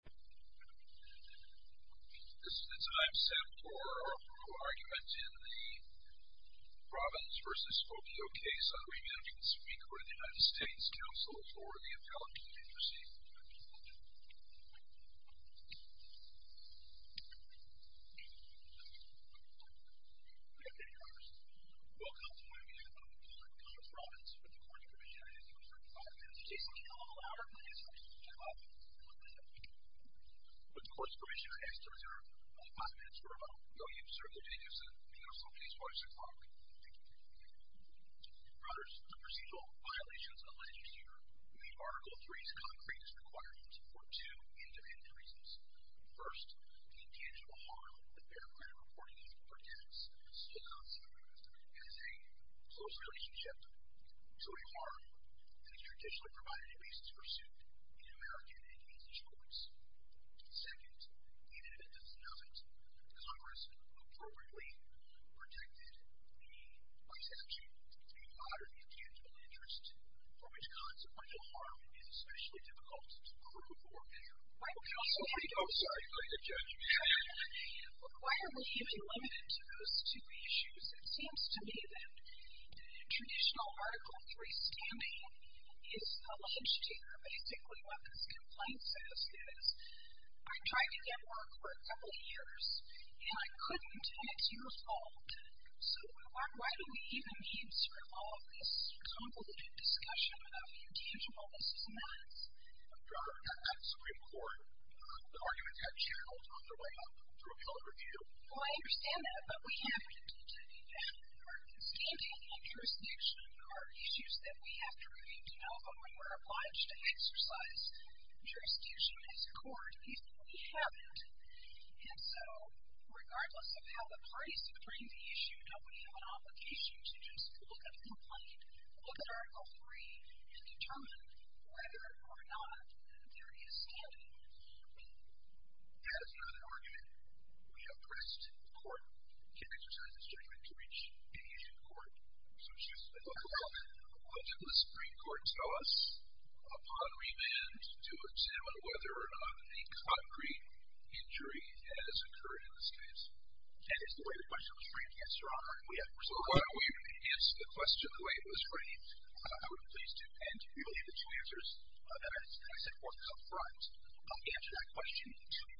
This is the time set for our formal argument in the Robins v. Spokeo case on re-managing the Supreme Court of the United States, counsel for the Appellate Community. Good day, Your Honors. Welcome to the re-management of the Court of Robins with the Court of Commissioning I ask that you reserve five minutes to say something a little louder, please. With the Court's permission, I ask you to reserve five minutes for a moment. Will you serve your day, Your Honor? Counsel, please close your clock. Brothers, the procedural violations alleged this year meet Article III's concrete requirements for two independent reasons. First, the intangible harm that fair credit reporting is or dents still amounts to as a close relationship to a harm that is traditionally provided in basis of pursuit in an American agency's courts. Second, even if it doesn't have it, Congress appropriately protected the presumption of a moderate intangible interest for which consequential harm is especially difficult to prove or measure. Right, counsel? I'm sorry. Go ahead, Judge. Why are we even limited to those two issues? It seems to me that traditional Article III standing is alleged here. Basically, what this complaint says is, I tried to get work for a couple of years, and I couldn't, and it's your fault. So, why do we even need sort of all of this convoluted discussion of intangibleness and that? Your Honor, that's a report. The argument's got channeled all the way up through appellate review. Well, I understand that, but we haven't continued that. Our standing and jurisdiction are issues that we have to review to know if we were obliged to exercise jurisdiction as a court, even though we haven't. And so, regardless of how the parties have framed the issue, don't we have an obligation to just look at the complaint, look at Article III, and determine whether or not that there is standing? That is not an argument. We have pressed the court to exercise its judgment to reach an issue in court. So, excuse me. Well, did the Supreme Court tell us, upon remand, to examine whether or not a concrete injury has occurred in this case? That is the way the question was framed, yes, Your Honor. So, why are we even going to answer the question the way it was framed? I would be pleased to. And really, the two answers that I set forth up front answer that question, too.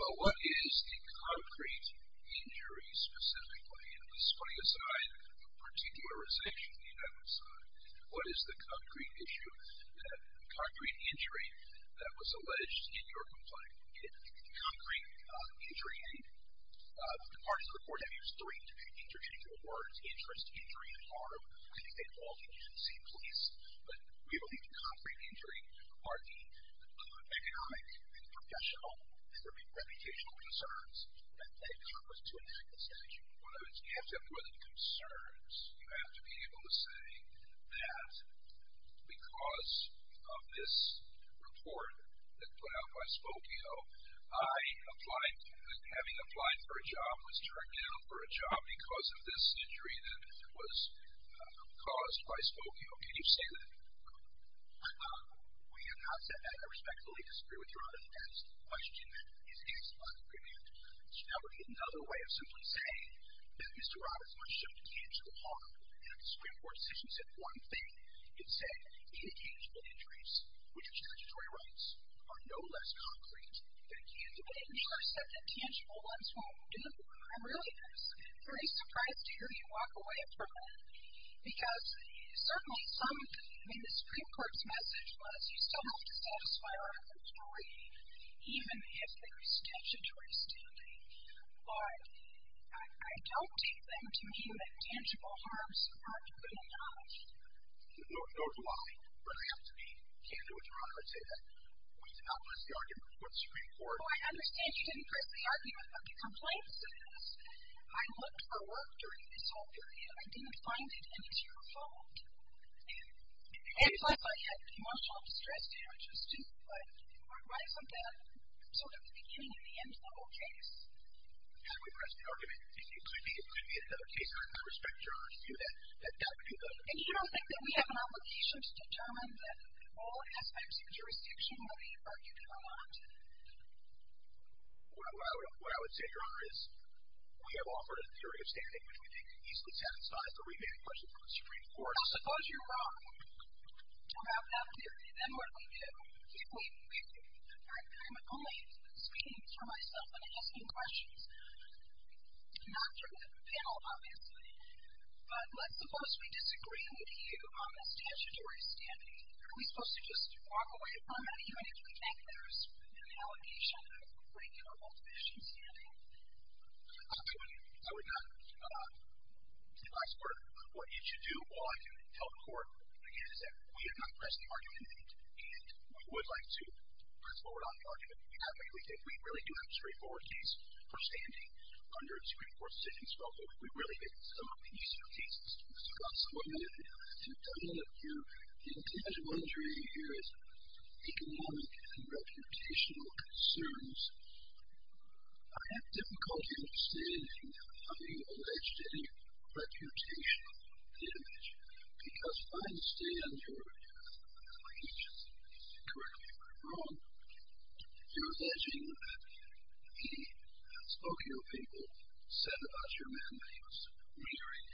Well, what is the concrete injury, specifically? And this is putting aside particularization on the other side. What is the concrete issue, the concrete injury that was alleged in your complaint? The concrete injury, the parties of the court have used three interchangeable words, interest, injury, and harm. I think they've all been used in the same place. But we believe the concrete injury are the economic and professional and reputational concerns that they come with to enact this statute. Well, you have to have more than concerns. You have to be able to say that because of this report that was put out by Spokio, I applied, having applied for a job, was turned down for a job because of this injury that was caused by Spokio. Can you say that? We have not said that. I respectfully disagree with Your Honor. That is the question that is asked by the preamble. Now, we need another way of simply saying that Mr. Roberts must show intangible harm. And if the Supreme Court's decision said one thing, it said, the interchangeable injuries, which are statutory rights, are no less concrete than candidate injuries. When Mueller said that tangible ones won't do, I really was pretty surprised to hear you walk away from that. Because certainly some, I mean, the Supreme Court's message was you still have to satisfy our inquiry, even if there is statutory standing. But I don't take them to mean that tangible harms aren't good enough. No, Your Honor, but I have to be candid with Your Honor and say that we've outlined the argument before the Supreme Court. I understand you didn't press the argument, but the complaint says, I looked for work during this whole period. I didn't find it any to your fault. And plus, I had emotional distress damages, too. But why isn't that sort of the beginning of the end-level case? How do we press the argument? It could be another case, and I respect Your Honor's view that that would be good. And you don't think that we have an obligation to determine that All aspects of jurisdiction will be argued in Vermont. What I would say, Your Honor, is we have offered a theory of standing, which we think can easily satisfy the remaining questions from the Supreme Court. I suppose you're wrong about that theory. Then what do we do? I'm only speaking for myself and asking questions, not through the panel, obviously. But let's suppose we disagree with you on the statutory standing. Aren't we supposed to just walk away from it, even if we think there's an allegation of breaking our multivision standing? I would not, in my support of what you should do. All I can tell the Court is that we have not pressed the argument, and we would like to press forward on the argument. We really do have a straightforward case for standing under a Supreme Court decision scope, and we really think some of the easier cases, Mr. Gosselaar, you've done it. The individual injury here is economic and reputational concerns. I have difficulty understanding how you alleged any reputational damage, because I understand your allegation. Correct me if I'm wrong, you're alleging that he, spoke to your people, said about your men that he was weary,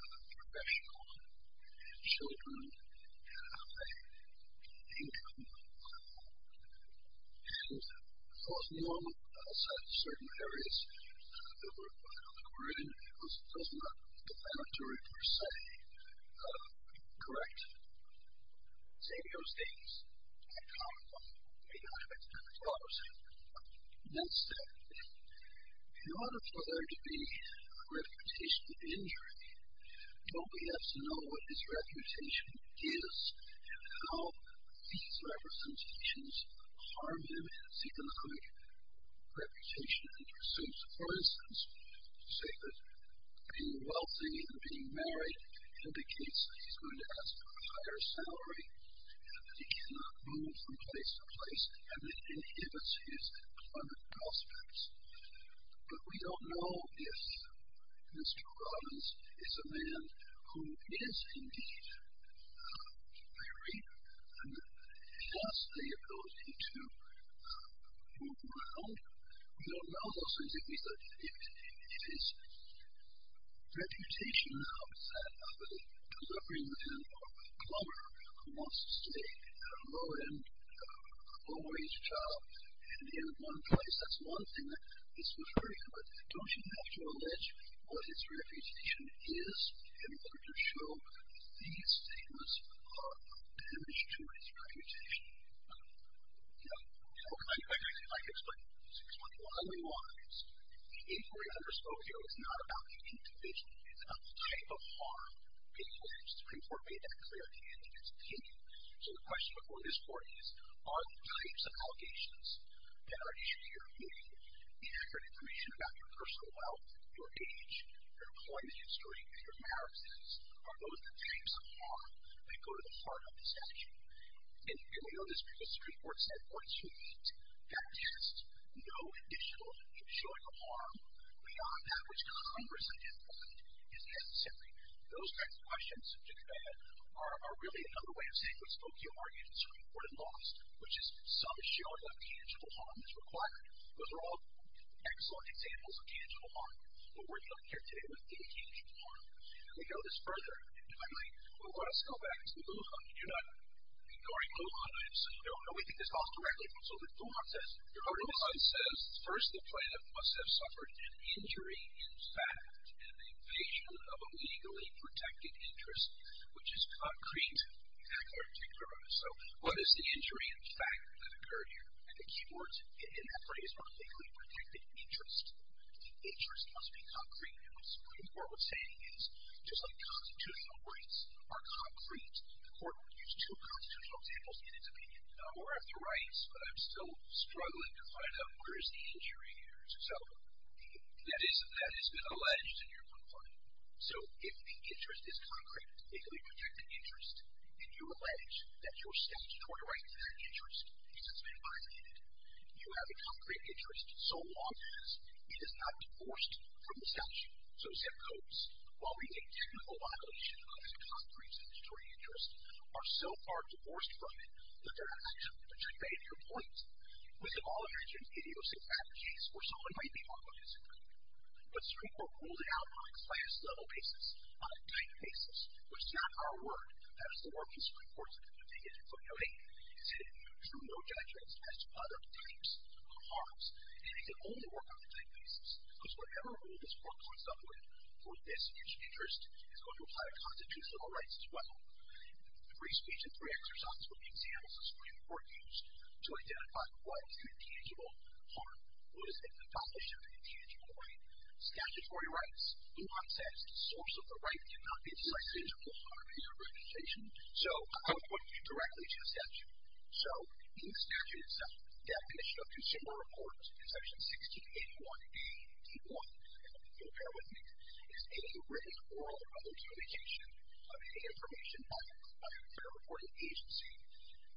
professional, had children, had a high income, and was normal outside of certain areas that were in, was not planetary per se. Correct. Xavier states, I can't, maybe I have a different thought or something, that said, in order for there to be a reputational injury, don't we have to know what his reputation is, and how these representations harm him, is he going to have a reputational injury? So for instance, you say that being wealthy and being married indicates that he's going to have a higher salary, that he cannot move from place to place, and it inhibits his economic prospects. But we don't know if Mr. Robbins is a man who is indeed weary, and thus the ability to move around. We don't know those things. His reputation now is that of a deliveryman or a plumber who wants to stay at a low-end, low-wage job, and in one place. That's one thing that he's referring to. But don't you have to allege what his reputation is in order to show that these statements are a damage to his reputation? I'd like to explain why we want this. The inquiry I just spoke to is not about the intuition. It's about the type of harm that he claims. The Supreme Court made that clear at the end of his opinion. So the question before this Court is, are the types of allegations that are issued here, meaning inaccurate information about your personal wealth, your age, your employment history, and your marriages, are those the types of harm that go to the heart of the statute? And we know this because the Supreme Court said, once you meet that test, no additional showing of harm, beyond that which Congress identified, is necessary. Those types of questions, to the end, are really another way of saying what Spokiel argued the Supreme Court had lost, which is some showing of tangible harm is required. Those are all excellent examples of tangible harm. But we're dealing here today with the tangible harm. And we know this further. And finally, we want to go back to the moot hunt. You're not ignoring the moot hunt. I don't know anything that falls directly from the moot hunt. The moot hunt says, first, the plaintiff must have suffered an injury in fact, an invasion of a legally protected interest, which is concrete. Exactly what I'm thinking about. So what is the injury in fact that occurred here? And the key words in that phrase are legally protected interest. The interest must be concrete. And what the Supreme Court was saying is, just like constitutional rights are concrete, the Court would use two constitutional examples in its opinion. I don't know about the rights, but I'm still struggling to find out where is the injury here. So that has been alleged in your complaint. So if the interest is concrete, legally protected interest, and you allege that your statutory right to that interest has been violated, you have a concrete interest, so long as it is not divorced from the statute. So zip codes, while we take technical violation of the concrete statutory interest, are so far divorced from it that they're not actually part of your complaint. We have all imagined idiosyncrasies where someone might be wrongly disciplined. But the Supreme Court ruled it out on a class level basis, on a type basis, which is not our work. That is the work of the Supreme Court. And it can only work on a type basis, because whatever rule this Court comes up with for this huge interest is going to apply to constitutional rights as well. Free speech and free exercise would be examples the Supreme Court used to identify what is an intangible harm, what is an abolishment of an intangible right. Statutory rights, the law says, the source of the right cannot be a decisional harm in your reputation. So I'm going to point you directly to the statute. So in the statute itself, the definition of consumer report in Section 1681A.D.1, and you'll bear with me, is any written oral or other communication of any information by a fair reporting agency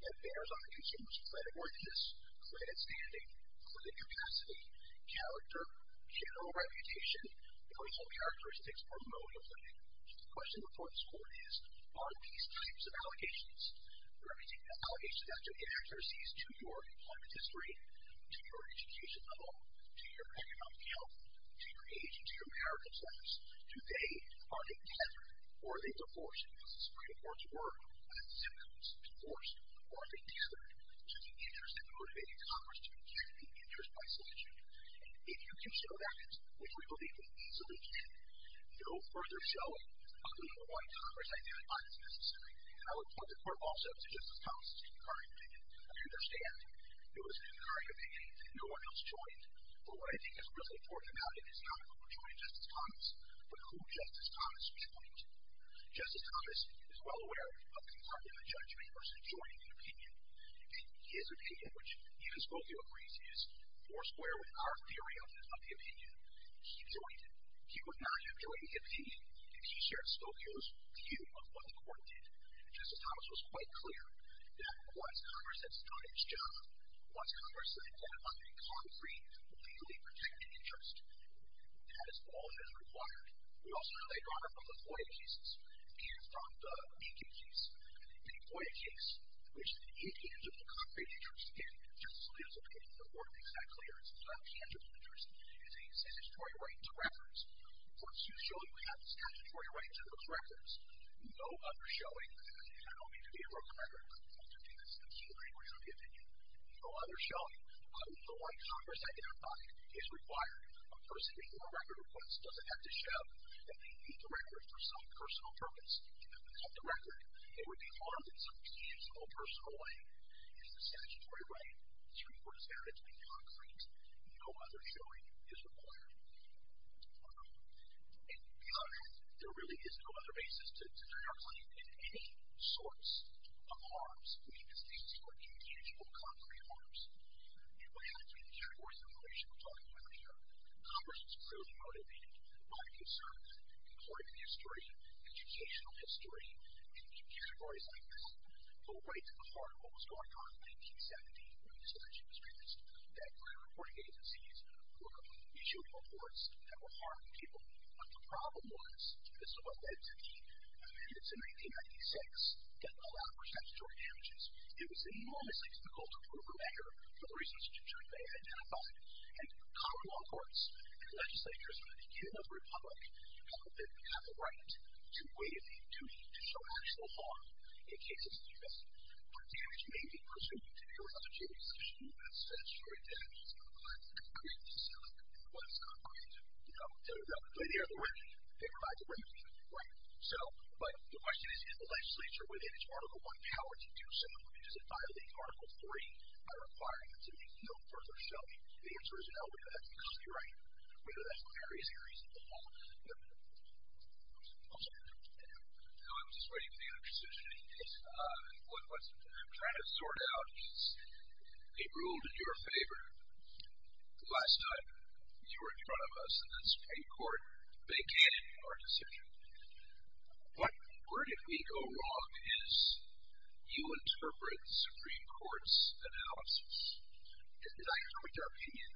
that bears on the consumer's credit worthiness, credit standing, credit capacity, character, general reputation, personal characteristics, or mode of living. The question before this Court is, are these types of allegations, representing the allegations after the inaccuracies to your employment history, to your education level, to your economic health, to your age and to your marital status, do they, are they tethered or are they divorced? Does the Supreme Court's work on the symptoms of divorce, are they tethered to the interests that motivated Congress to continue to be interested by selection? If you can show that, which we believe we easily can, no further showing of the number one Congress identified is necessary. And I would point the Court also to Justice Thomas' concurring opinion. I understand it was a concurring opinion and no one else joined, but what I think is really important about it is not who joined Justice Thomas, but who Justice Thomas joined. Justice Thomas is well aware of concurring a judgment versus joining an opinion. And his opinion, which even Spokio agrees is more square with our theory of the opinion, he joined it. He would not have joined the opinion if he shared Spokio's view of what the Court did. Justice Thomas was quite clear that once Congress has done its job, once Congress has identified a concrete, legally protected interest, that is all that is required. We also know later on from the FOIA cases and from the Lincoln case, the FOIA case, which is an indivisible, concrete interest, and Justice Scalia's opinion in the Court makes that clear, is a statutory right to records. Once you show you have a statutory right to those records, no other showing, and I don't mean to be a broken record, but I do think that's the key language of the opinion, no other showing of the right Congress identified is required. A person before a record request doesn't have to show that they need the record for some personal purpose. If they don't have the record, it would be harmed in some deemsimple personal way. It's a statutory right. The Supreme Court has found it to be concrete. No other showing is required. And beyond that, there really is no other basis to deny our claim in any source of harms, because these were indivisible, concrete harms. And by having three categories of information we're talking about here, Congress was clearly motivated by the concern that, according to the historian, educational history, in categories like this, go right to the heart of what was going on in 1970 when this election was faced, that reporting agencies were issuing reports that were harming people. But the problem was, this is what led to the amendments in 1996 that allowed for statutory damages. It was enormously difficult to prove a measure for the reasons which it should have been identified. And common law courts and legislators of the U.S. Republic have the right to waive the duty to show actual harm in cases like this. But damage may be presumed to be a legislative decision that's statutory damage. It's not concrete. It's not concrete. They provide the remedy, right? But the question is, in the legislature, within its Article I power to do so, does it violate Article III by requiring it to be no further showing? The answer is no. We know that's the copyright. We know that's the various areas of the law. I'm just waiting for the other decision. What I'm trying to sort out is a rule in your favor. Last time you were in front of us in the Supreme Court, they can't ignore a decision. But where did we go wrong is you interpret the Supreme Court's analysis. Did I correct your opinion?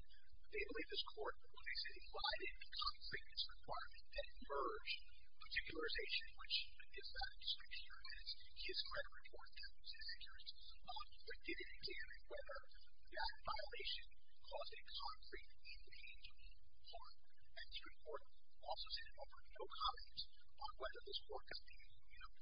They believe this Court, when they say, why didn't the concreteness requirement that emerged, particularization, which is not in the Supreme Court, and it's not a report that was inaccurate, but did it examine whether that violation caused a concrete, indelible harm. And the Supreme Court also said it offered no comments on whether this work has been, you know,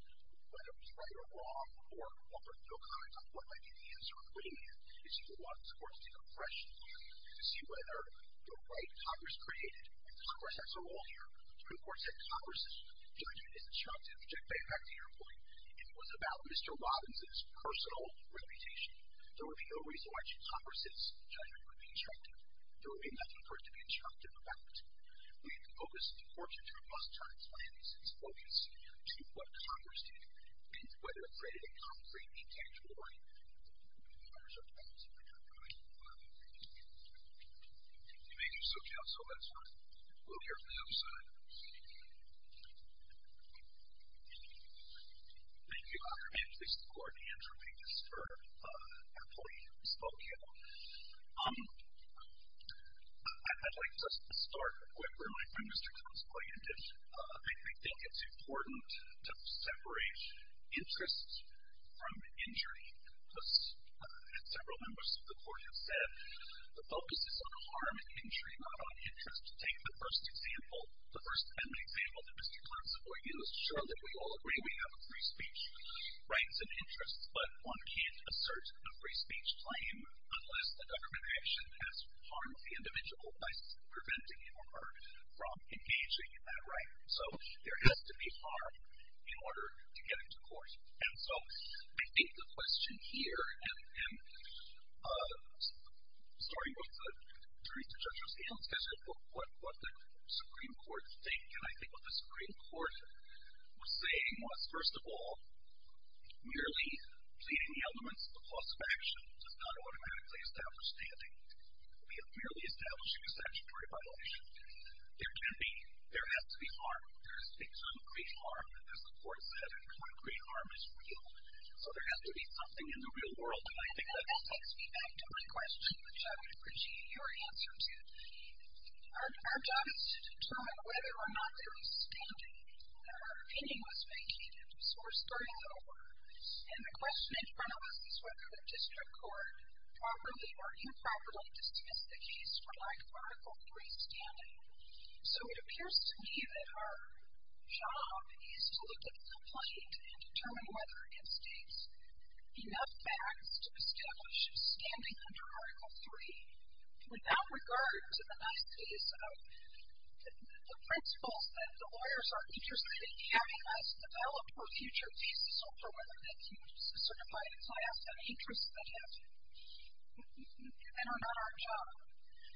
whether it was right or wrong, or offered no comments on what might be the answer. What we need is for the law to take a fresh look to see whether the right Congress created, and Congress has a role here, the Supreme Court said Congress's judgment is instructive, which I take back to your point. If it was about Mr. Robbins' personal reputation, there would be no reason why Congress's judgment would be instructive. There would be nothing for it to be instructive about. We need to focus the Court's robust transparency focus to what Congress did and whether it created a concrete, intangible harm. I'm not sure if I answered that correctly. You may do so, Counsel. That's fine. We'll hear from the other side. Thank you. Thank you, Your Honor. If the Supreme Court may answer me. This is for our colleague from Spokane. I'd like to start quickly. I'm Mr. Tom's client. I think it's important to separate interest from injury. As several members of the Court have said, the focus is on harm and injury, not on interest. Take the first example, the First Amendment example that Mr. Clark is avoiding. It's true that we all agree we have a free speech rights and interests, but one can't assert a free speech claim unless the government action has harmed the individual by preventing him or her from engaging in that right. So, there has to be harm in order to get into court. And so, I think the question here, and I'm sorry both the jury and the judge are standing, but what the Supreme Court think, and I think what the Supreme Court was saying was, first of all, merely pleading the elements of the clause of action does not automatically establish standing. We are merely establishing a statutory violation. There can be, there has to be harm. There is concrete harm, as the Court said, and concrete harm is real. So, there has to be something in the real world. And I think that. That takes me back to my question, which I would appreciate your answer to. Our job is to determine whether or not there is standing. Our opinion was vacated. So, we're starting over. And the question in front of us is whether the district court, properly or improperly, just used the case for like Article III standing. So, it appears to me that our job is to look at the complaint and determine whether it states enough facts to establish standing under Article III without regard to the nice case of the principles that the lawyers are interested in having us develop for future cases or whether they can certify the class of interests that have been given on our job.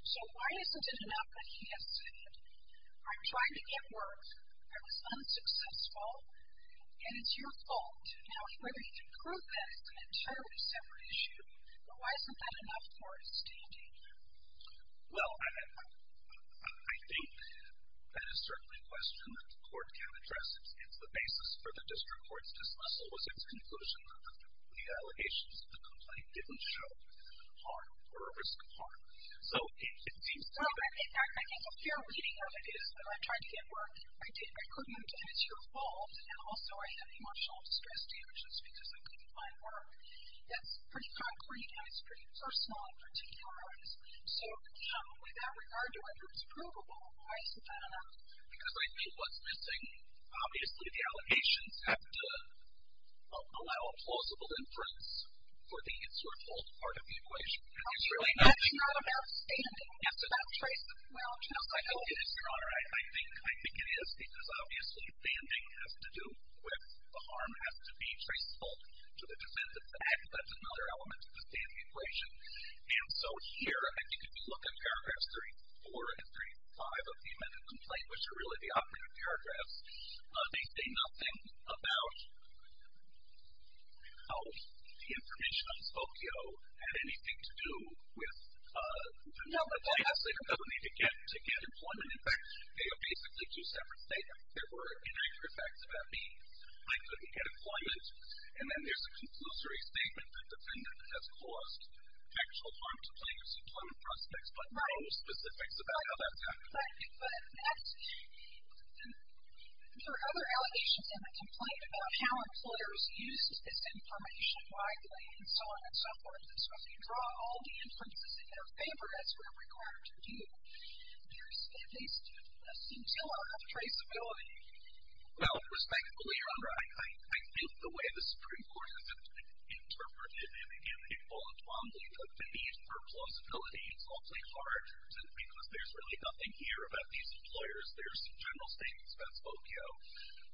So, why isn't it enough that he has said, I'm trying to get work, I was unsuccessful, and it's your fault. Now, whether you can prove that is an entirely separate issue, but why isn't that enough for standing? Well, I think that is certainly a question that the Court can address. It's the basis for the district court's dismissal, was its conclusion that the allegations of the complaint didn't show harm or a risk of harm. So, it seems to me that... Well, in fact, I think a fair reading of it is that I tried to get work, I couldn't, and it's your fault, and also I have emotional distress damages because I couldn't find work. That's pretty concrete and it's pretty personal in particular. So, without regard to whether it's provable, why isn't that enough? Because I think what's missing, obviously the allegations have to allow a plausible inference for the it's your fault part of the equation. And it's really not. That's not about standing. Yes, it is. That's about traceability. No, I think it is, Your Honor. I think it is because obviously standing has to do with the harm has to be traceable to the defense of the act. That's another element of the standing equation. And so, here, I think if you look at paragraphs 34 and 35 of the amended complaint, which are really the operative paragraphs, they say nothing about how the information on Spokio had anything to do with the task that a defendant needed to get to get employment. In fact, they are basically two separate statements. There were inaccurate facts about me. I couldn't get employment. And then there's a conclusory statement that the defendant has caused factual harm to plaintiff's employment prospects, but no specifics about how that's happened. Right. But there are other allegations in the complaint about how employers used this information widely and so on and so forth. So, if you draw all the inferences in their favor, as we're required to do, there's at least a scintilla of traceability. Well, respectfully, Your Honor, I think the way the Supreme Court has interpreted it, and, again, the need for plausibility is awfully hard, because there's really nothing here about these employers. There's general statements about Spokio.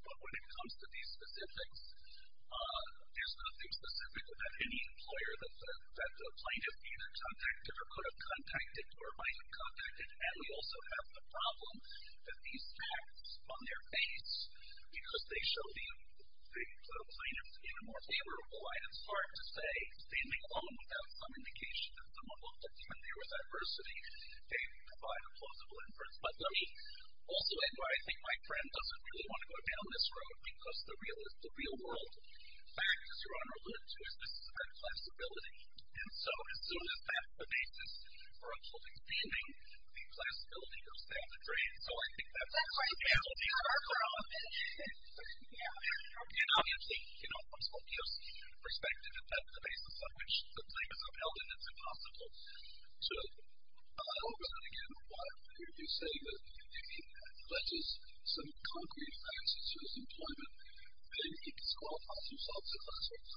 But when it comes to these specifics, there's nothing specific about any employer that the plaintiff either contacted or could have contacted or might have contacted. And we also have the problem that these facts on their face, because they show the plaintiff's even more favorable, it's hard to say, seeming alone without some indication that someone looked at them and there was adversity. They provide a plausible inference. But let me also add, where I think my friend doesn't really want to go down this road, because the real world fact, as Your Honor alluded to, is this is about classability. And so, as soon as that evades this fraudulently seeming, the classability goes down the drain. So, I think that's a possibility on our part. And obviously, you know, from Spokio's perspective, if that's the basis on which the plaintiff is upheld, then it's impossible to allow that again. If you're saying that he pledges some concrete offenses to his employment, then he disqualifies himself as a classmate.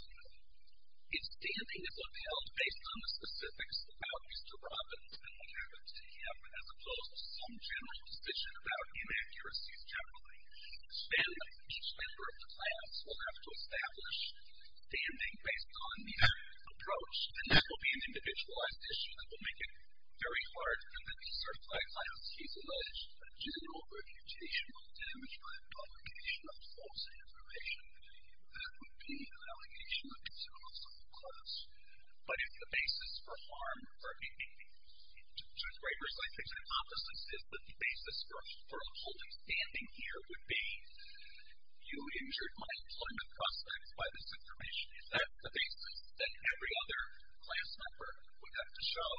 His standing is upheld based on the specifics about Mr. Robinson and what happened to him, as opposed to some general position about inaccuracies generally. Then each member of the class will have to establish standing based on their approach. And that will be an individualized issue that will make it very hard for the disqualified class. He's alleged a general reputational damage by an allegation of false information. That would be an allegation of a possible cause. But if the basis for harm or maybe, to a greater extent, I think the hypothesis is that the basis for upholding standing here would be you injured my employment prospect by this information. Is that the basis? That every other class member would have to show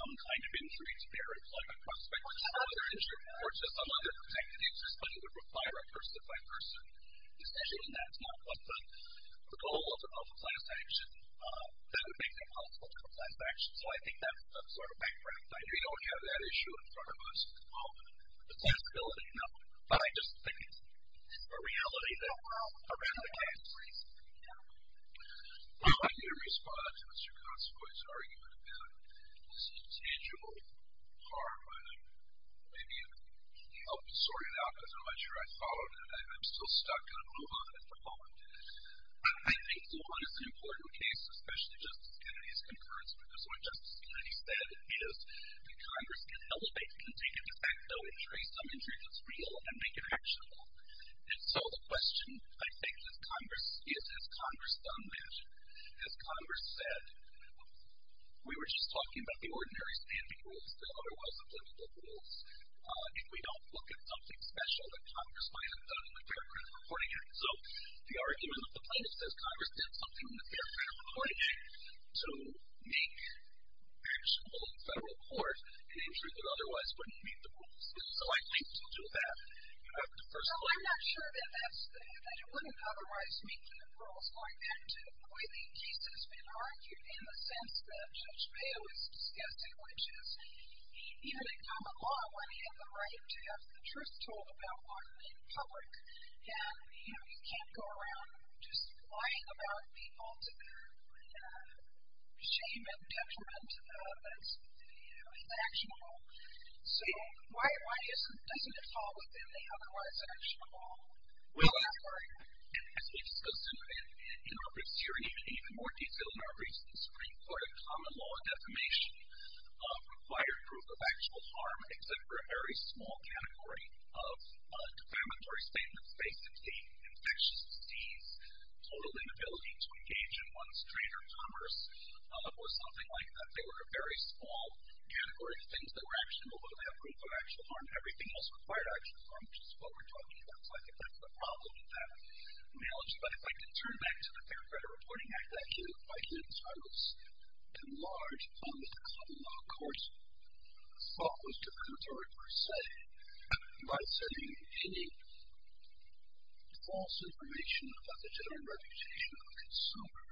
some kind of injury to their employment prospect or to some other protected interest, but it would require a person-by-person decision. That's not what the goal of a class action. That would make it impossible to have a class action. So, I think that's sort of background. I know you don't have that issue in front of us at the moment, the class ability. No. But I just think it's a reality that around the case. I need to respond to Mr. Consovoy's argument about this intangible harm. Maybe it would help to sort it out, because I'm not sure I followed it. I'm still stuck on Lujan at the moment. I think Lujan is an important case, especially Justice Kennedy's concurrence, because what Justice Kennedy said is that Congress can elevate the contingent effect of injury, some injury that's real, and make it actionable. And so the question, I think, is has Congress done magic? Has Congress said, we were just talking about the ordinary standing rules, the otherwise applicable rules. If we don't look at something special that Congress might have done in the Fair Credit Reporting Act. Actionable in federal court, an injury that otherwise wouldn't meet the rules is likely to do that. I'm not sure that you wouldn't otherwise meet the rules. Going back to the way the case has been argued, in the sense that Judge Mayo has discussed it, which is even in common law, when you have the right to have the truth told about in public, you can't go around just lying about the ultimate shame and detriment that's actionable. So why doesn't it fall within the otherwise actionable framework? Well, as we discussed in our briefs here, and even more detailed in our briefs in the Supreme Court, in common law, defamation requires proof of actual harm except for a very small category of defamatory statements. Basically, infectious disease, total inability to engage in one's trade or commerce, or something like that. They were a very small category of things that were actionable, but they have proof of actual harm. Everything else required actual harm, which is what we're talking about. So I think that's the problem with that analogy. But if I can turn back to the Fair Credit Reporting Act, that came in quite late. I was in large public common law courts. I thought it was defamatory per se. By saying any false information about the general reputation of a consumer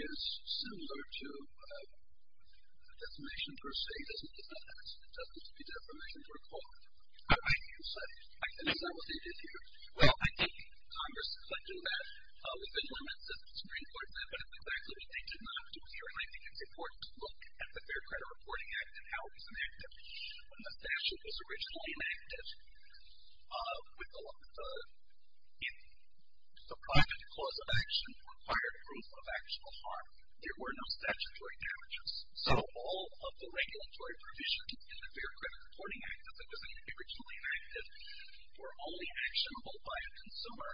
is similar to defamation per se. It doesn't depend on that. It doesn't have to be defamation per quote. I think you said it. I did. Is that what they did here? Well, I think Congress could do that within limits of the Supreme Court, but it's exactly what they did not do here. And I think it's important to look at the Fair Credit Reporting Act and how it was enacted. When the statute was originally enacted, the private clause of action required proof of actual harm. There were no statutory damages. So all of the regulatory provisions in the Fair Credit Reporting Act, as it was originally enacted, were only actionable by a consumer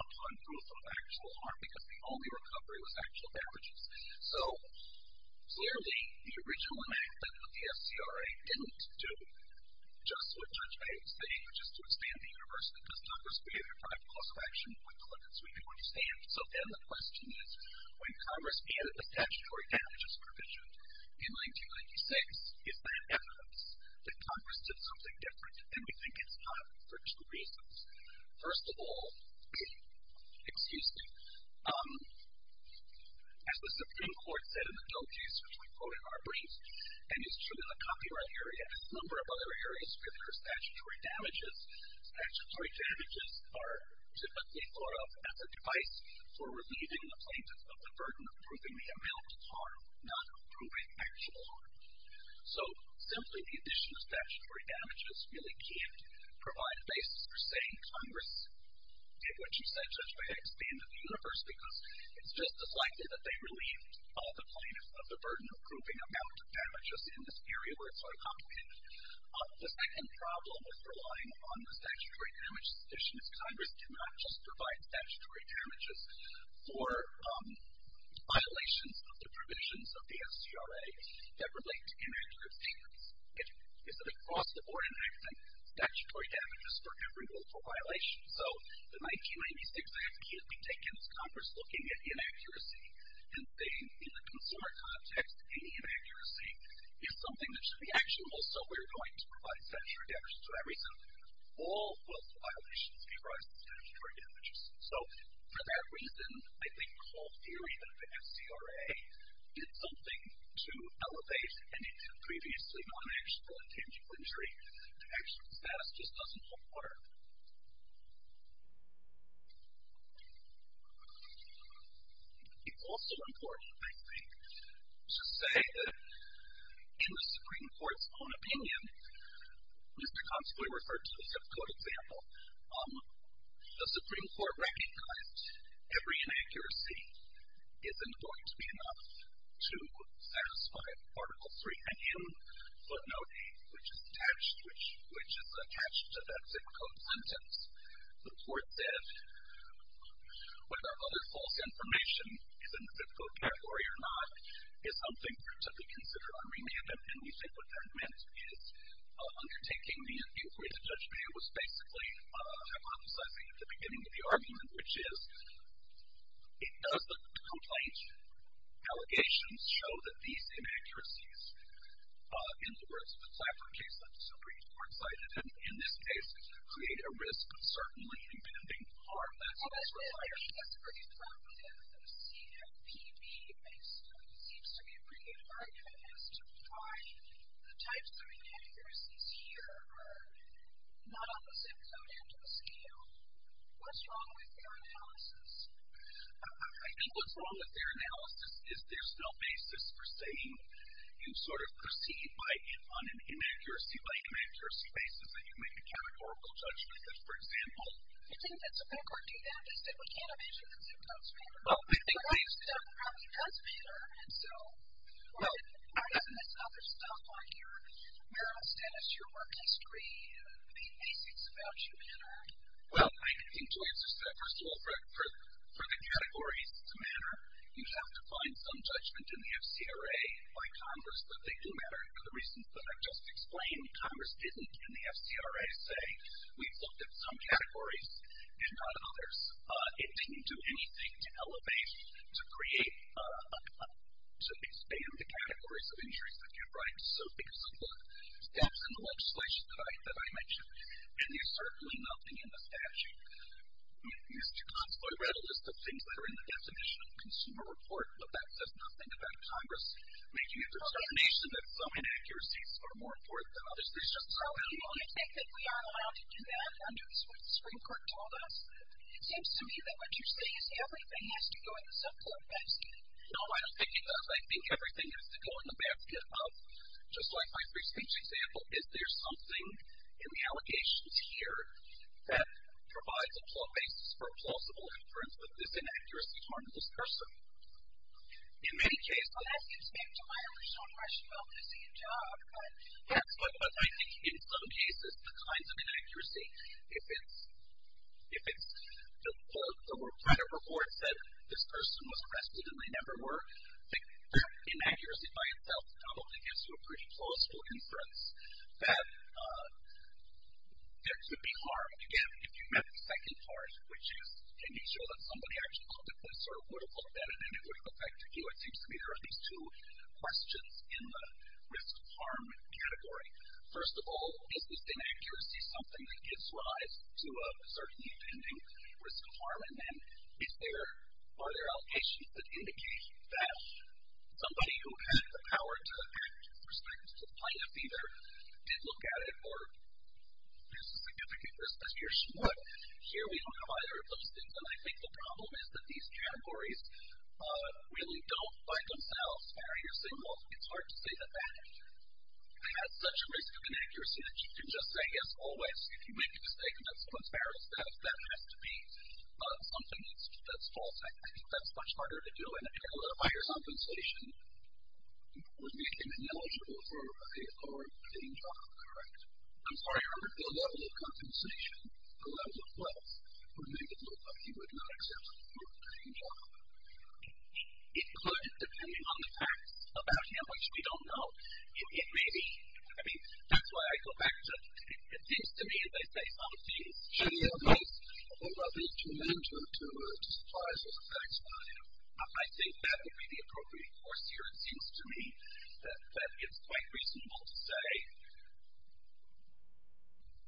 upon proof of actual harm, because the only recovery was actual damages. So, clearly, the original enactment of the SCRA didn't do just what Judge Bates is saying, which is to expand the universe, because Congress created a private clause of action with limits we can understand. So then the question is, when Congress added the statutory damages provision in 1996, is that evidence that Congress did something different? And we think it's not, for two reasons. First of all, excuse me, as the Supreme Court said in the DOJ's, which we quote in our brief, and is true in the copyright area and a number of other areas with their statutory damages, statutory damages are typically thought of as a device for relieving the plaintiffs of the burden of proving the amount of harm, not proving actual harm. So simply the addition of statutory damages really can't provide a basis for saying Congress did what you said, Judge Bates, expanded the universe, because it's just as likely that they relieved the plaintiffs of the burden of proving amount of damages in this area where it's quite complicated. The second problem with relying on the statutory damages addition is Congress did not just provide statutory damages for violations of the provisions of the SCRA that relate to inactive statements. It's an across-the-board inactive statutory damages for every willful violation. So the 1996 Act can't be taken as Congress looking at inaccuracy and saying in the consumer context any inaccuracy is something that should be actionable, so we're going to provide statutory damages. For that reason, all willful violations give rise to statutory damages. So for that reason, I think the whole theory that the SCRA did something to elevate any previously non-actual intangible injury to actual status just doesn't hold water. It's also important, I think, to say that in the Supreme Court's own opinion, Mr. Consoly referred to the zip code example, the Supreme Court recognized every inaccuracy isn't going to be enough to satisfy Article III. And in footnote 8, which is attached to that zip code sentence, the Court said whether other false information is in the zip code category or not is something for it to be considered unremanded. And we think what that meant is undertaking the inquiry to Judge Mayer was basically hypothesizing at the beginning of the argument, which is, does the complaint allegations show that these inaccuracies, in the words of the Clapper case, that the Supreme Court cited, in this case, create a risk of certainly impending harm that's otherwise required? I think that's a pretty thoughtful answer. The CFPB seems to be bringing an argument as to why the types of inaccuracies here are not on the zip code into the scale. What's wrong with their analysis? I think what's wrong with their analysis is there's no basis for saying you sort of proceed on an inaccuracy-by-inaccuracy basis that you make a categorical judgment. For example? I think that's a backward view now, just that we can't imagine that zip codes matter. Well, I think that zip codes probably does matter, and so, why doesn't this other stuff on your marital status, your work history, the basics about you matter? Well, I think to answer that, first of all, for the categories to matter, you have to find some judgment in the FCRA by Congress that they do matter. And for the reasons that I've just explained, Congress didn't in the FCRA say, we've looked at some categories and not others. It didn't do anything to elevate, to create, to expand the categories of injuries that you write. So, because of the steps in the legislation that I mentioned, and there's certainly nothing in the statute. Mr. Consoy read a list of things that are in the Definition of Consumer Report, but that says nothing about Congress making a determination that some inaccuracies are more important than others. There's just no evidence. Well, do you really think that we aren't allowed to do that, under what the Supreme Court told us? It seems to me that what you're saying is everything has to go in the zip code basket. No, I don't think it does. I think everything has to go in the basket of, just like my previous example, is there something in the allegations here that provides a basis for plausible inference with this inaccuracy harm to this person? In many cases, well, that seems to be a reliably shown question. Well, but it's the job. But I think in some cases, the kinds of inaccuracy, if it's the kind of reports that this person was arrested and they never were, the inaccuracy by itself probably gives you a pretty plausible inference that there could be harm. Again, if you met the second part, which is can you show that somebody actually looked at this or would have looked at it and it would have affected you, it seems to me there are these two questions in the risk of harm category. First of all, is this inaccuracy something that gives rise to a certainly intending risk of harm? And then are there allocations that indicate that somebody who had the power to act with respect to plaintiff either did look at it or there's a significant risk that he or she would? Here we don't have either of those things, and I think the problem is that these categories really don't, by themselves, fire your signals. It's hard to say that that has such a risk of inaccuracy that you can just say, yes, always, if you make a mistake and that someone's harassed, that has to be something that's false. I think that's much harder to do, and again, a lot of buyer's compensation would make him ineligible for a job. I'm sorry, the level of compensation, the level of wealth, would make it look like he would not accept a job. It could, depending on the facts about him, which we don't know. It may be, I mean, that's why I go back to, it seems to me as they say, some of these should be in place, but what about these two men to supply us with the tax money? I think that would be the appropriate course here, it seems to me, that it's quite reasonable to say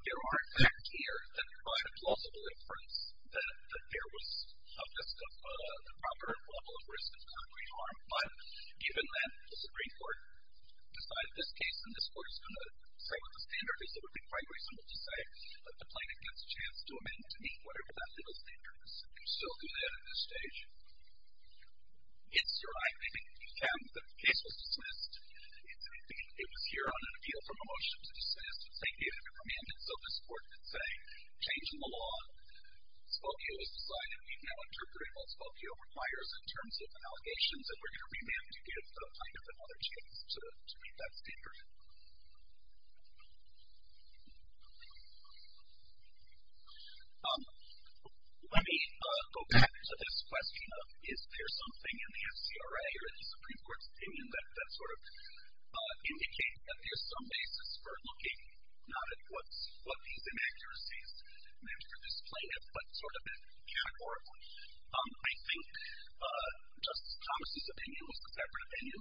there are facts here that provide a plausible inference that there was a proper level of risk of concrete harm, but given that the Supreme Court decided this case, and this Court is going to say what the standard is, it would be quite reasonable to say that the plaintiff gets a chance to amend to meet whatever that legal standard is. Can you still do that at this stage? It's your right. I think you can. The case was dismissed. It was here on an appeal from a motion to dismiss. It's a given to amend, and so this Court could say, change in the law, Spokio is decided, we can now interpret what Spokio requires in terms of allegations, and we're going to remand to give the plaintiff another chance to meet that standard. Let me go back to this question of, is there something in the FCRA or in the Supreme Court's opinion that sort of indicates that there's some basis for looking not at what these inaccuracies meant for this plaintiff, but sort of categorically. I think Justice Thomas' opinion was the separate opinion.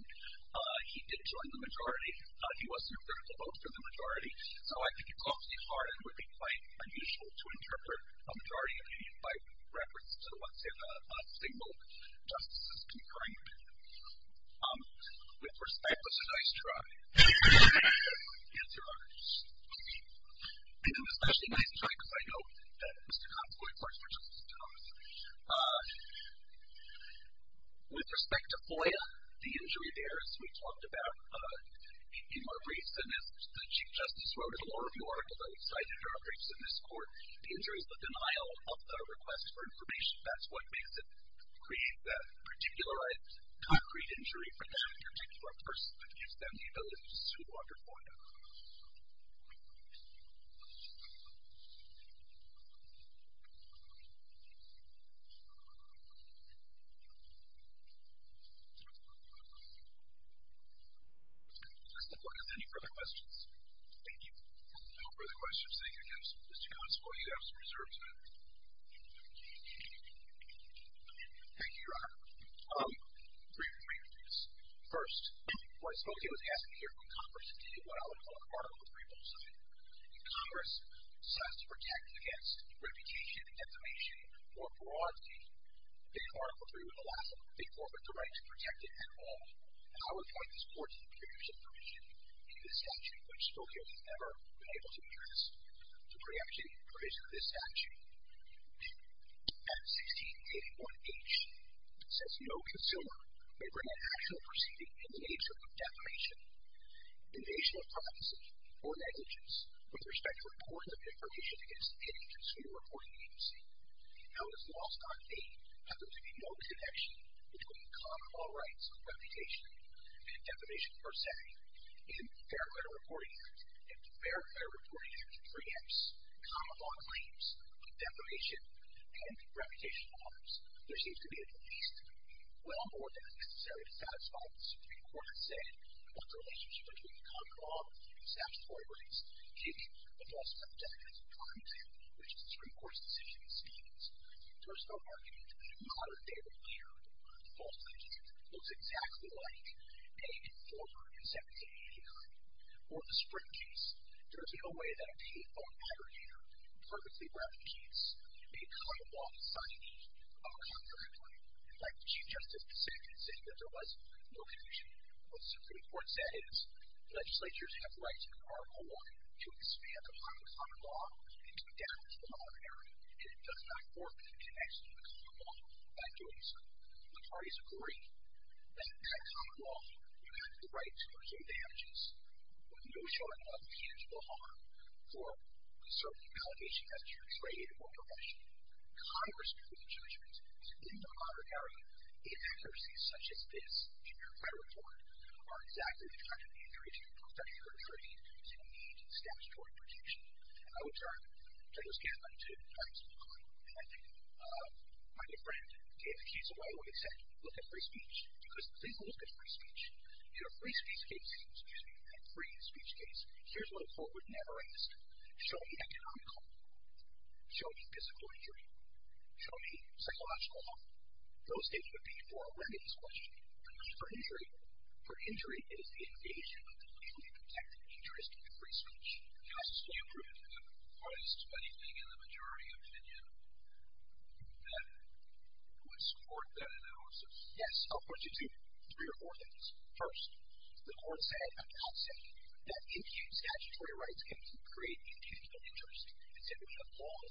He did join the majority. He was in a critical vote for the majority, so I think it calms me hard and would be quite unusual to interpret a majority opinion by reference to what, say, a single justice has confirmed. With respect, it was a nice try. It's your honor. And it was actually a nice try because I know that Mr. Consovoy works for Justice Thomas. With respect to FOIA, the injury there, as we talked about in our briefs, and as the Chief Justice wrote in a law review article that we cited in our briefs in this court, the injury is the denial of the request for information. That's what makes it create that particular concrete injury for that particular person that gives them the ability to sue under FOIA. Thank you, Your Honor. Justice Douglas, any further questions? Thank you. No further questions. Thank you again, Mr. Consovoy. You have some reserved time. Thank you, Your Honor. Briefly, please. First, what Spokio is asking here from Congress is to do what I would call an Article 3 bullseye. If Congress decides to protect against reputation and defamation more broadly, then Article 3 would allow them to be forfeited the right to protect it at all. And I would point this court to the previous information in the statute, which Spokio has never been able to address, to preempt the provision of this statute. Section 1681H says, No consumer may bring an actual proceeding in the nature of defamation, invasion of privacy, or negligence with respect to reports of information against any consumer reporting agency. How is lost on me that there would be no connection between common law rights of reputation and defamation per se in the Fair Credit Reporting Act? If the Fair Credit Reporting Act preempts common law claims, defamation, and reputational harms, there seems to be at least well more than is necessary to satisfy what the Supreme Court has said about the relationship between common law and statutory rights, keeping the false subject as a prime example, which is the Supreme Court's decision in Stevens. There is no argument that a modern-day lawyer, a false plaintiff, looks exactly like a informer in 1789. Or the spring case. There is no way that a default aggregator perfectly replicates a common law signage of a copyright claim. In fact, the Chief Justice did say that there was no connection. What the Supreme Court said is, Legislatures have rights in Article I to expand upon the common law and to adapt to the modern era, and it does not forfeit connection to the common law by doing so. The parties agree that that common law would have the right to receive damages with no shortage of tangible harm for a certain allegation as to your trade or profession. Congress made the judgment that in the modern era, inaccuracies such as this in your credit report are exactly the kind of injury to your professional integrity that you need statutory protection. And I would turn to those candidates to try to explain why. And I think my good friend gave the keys away when he said, look at free speech. Because please look at free speech. In a free speech case, excuse me, in a free speech case, here's what a court would never ask. Show me economical. Show me physical injury. Show me psychological. Those things would be for a women's question. For injury. For injury, it is the invasion of the legally protected interest in free speech. Justice, do you agree with that? Are there anything in the majority opinion that would support that analysis? Yes. I'll point you to three or four things. First, the court said, I'm not saying, that infused statutory rights can create infusional interest. It said we have long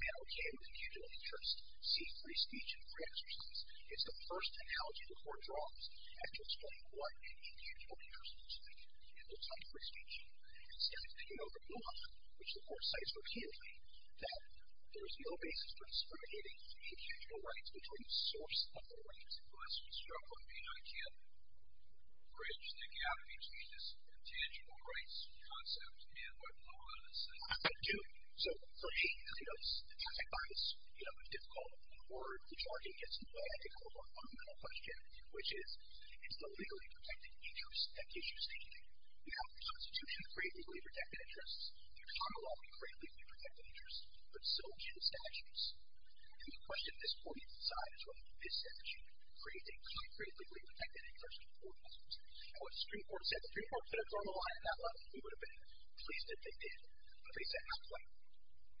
been okay with infusional interest, see free speech in free exercise. It's the first analogy the court draws after explaining what an infusional interest looks like. It looks like free speech. Instead, it's taking over law, which the court cites repeatedly, that there is no basis for discriminating infusional rights between the source of the rights, and thus, we struggle to be able to bridge the gap between this intangible rights concept and what law does. I do. So, for me, as you know, it's difficult, or the jargon gets in the way, I think, of a more fundamental question, which is, it's the legally protected interest that gives you stability. We have the Constitution, the freely protected interests. We have the Commonwealth, the freely protected interests. But so do the statutes. And the question at this point in time is whether this statute creates a concretely protected interest in the court systems. And what the Supreme Court said, the Supreme Court could have thrown a line at that level, and we would have been pleased if they did. But they said not quite. They said not every procedural violation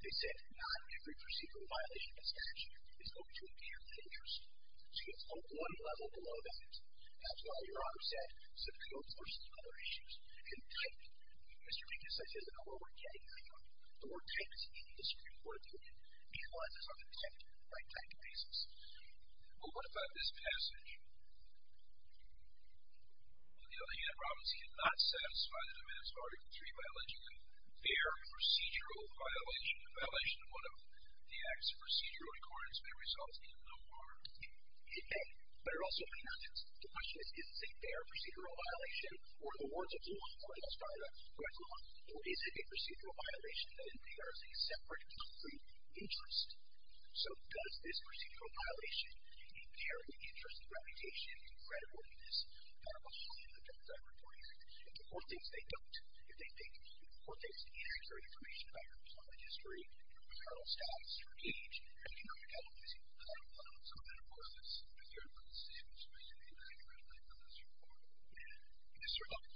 in this statute is open to infusional interest. So it's on one level below that. That's why Your Honor said subpoenas versus other issues. And the type, Mr. Minkus, I said, I don't know where we're getting there. The word type is in the Supreme Court opinion. These ones are the type, right type cases. Well, what about this passage? On the other hand, Providence cannot satisfy the demands of Article III by alleging a fair procedural violation. A violation of one of the acts of procedural accordance may result in no harm. It may. But it also may not. The question is, is this a fair procedural violation, or in the words of the law, and I'll start with the correct law, or is it a procedural violation that impairs a separate, concrete interest? So does this procedural violation impair the interest, the reputation, the credibleness that are behind the terms I'm reporting? If the court thinks they don't, if the court thinks it inherits their information about your public history, your criminal status, your age, and you're not accountable, is it not a violation? So then, of course, it's a fair procedural violation, especially if you're not accredited by the Supreme Court. Yes, Your Honor.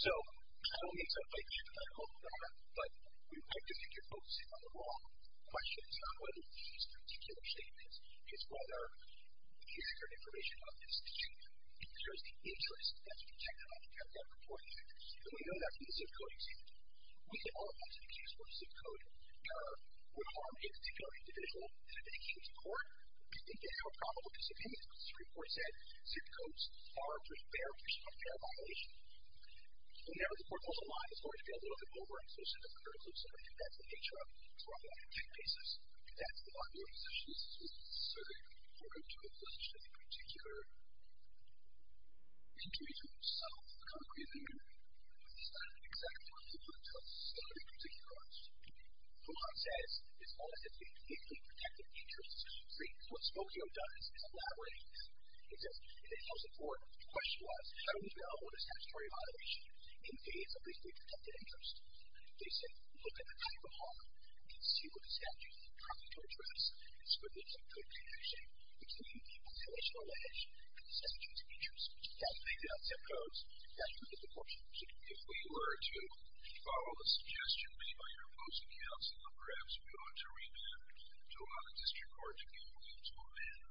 So I don't mean to fight you, Your Honor, but I think you're focusing on the wrong questions, not whether you can use particular statements. It's whether you share information about this issue. It shows the interest that's projected on the paragraph reported. And we know that from the ZIP Code example. We all want to make sure that ZIP Code error would harm a particular individual. If it came to court, we think they have a probable disobedience because the Supreme Court said ZIP Codes are a fair procedural violation. Now, if the court goes online, it's going to get a little bit overexposed into the critical circuit. That's the nature of it. It's brought forward in two cases. That's the law in which this issue is considered in order to inflict a particular injury to itself, a concrete injury. It's not exactly what the law tells us that it in particular does. The law says, as long as it's a legally protected interest, what Smokio does is elaborate. It tells the court, question-wise, how do we know what a statutory violation is in the case of a legally protected interest? They say, look at the title of the law and see what the statute has to address as to whether it's a good connection between the violation or violation of the statutory interest. That's based on ZIP Codes. That's what the court should do. If we were to follow the suggestion made by your opposing counsel of perhaps going to remand to allow the district court to go into remand,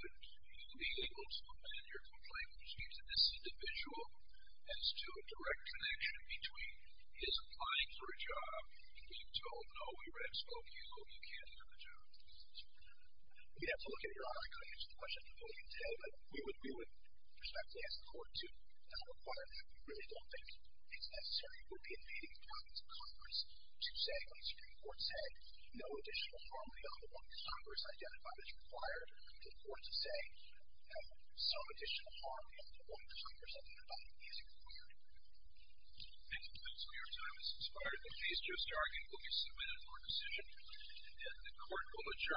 would you be able to amend your complaint which gives this individual as to a direct connection between his applying for a job and being told, no, we red Smokio, you can't do the job? We'd have to look at your article to answer the question completely today, but we would respectfully ask the court to not require that. We really don't think it's necessary. It would be invading the privacy of Congress to say, let the Supreme Court say, no additional formality on the one that Congress identified as required. It would be important to say, no, some additional harm in the one that Congress identified is required. Thank you. That's all your time. This is prior to the case. Joe Starkey will be submitted for decision. And the court will adjourn.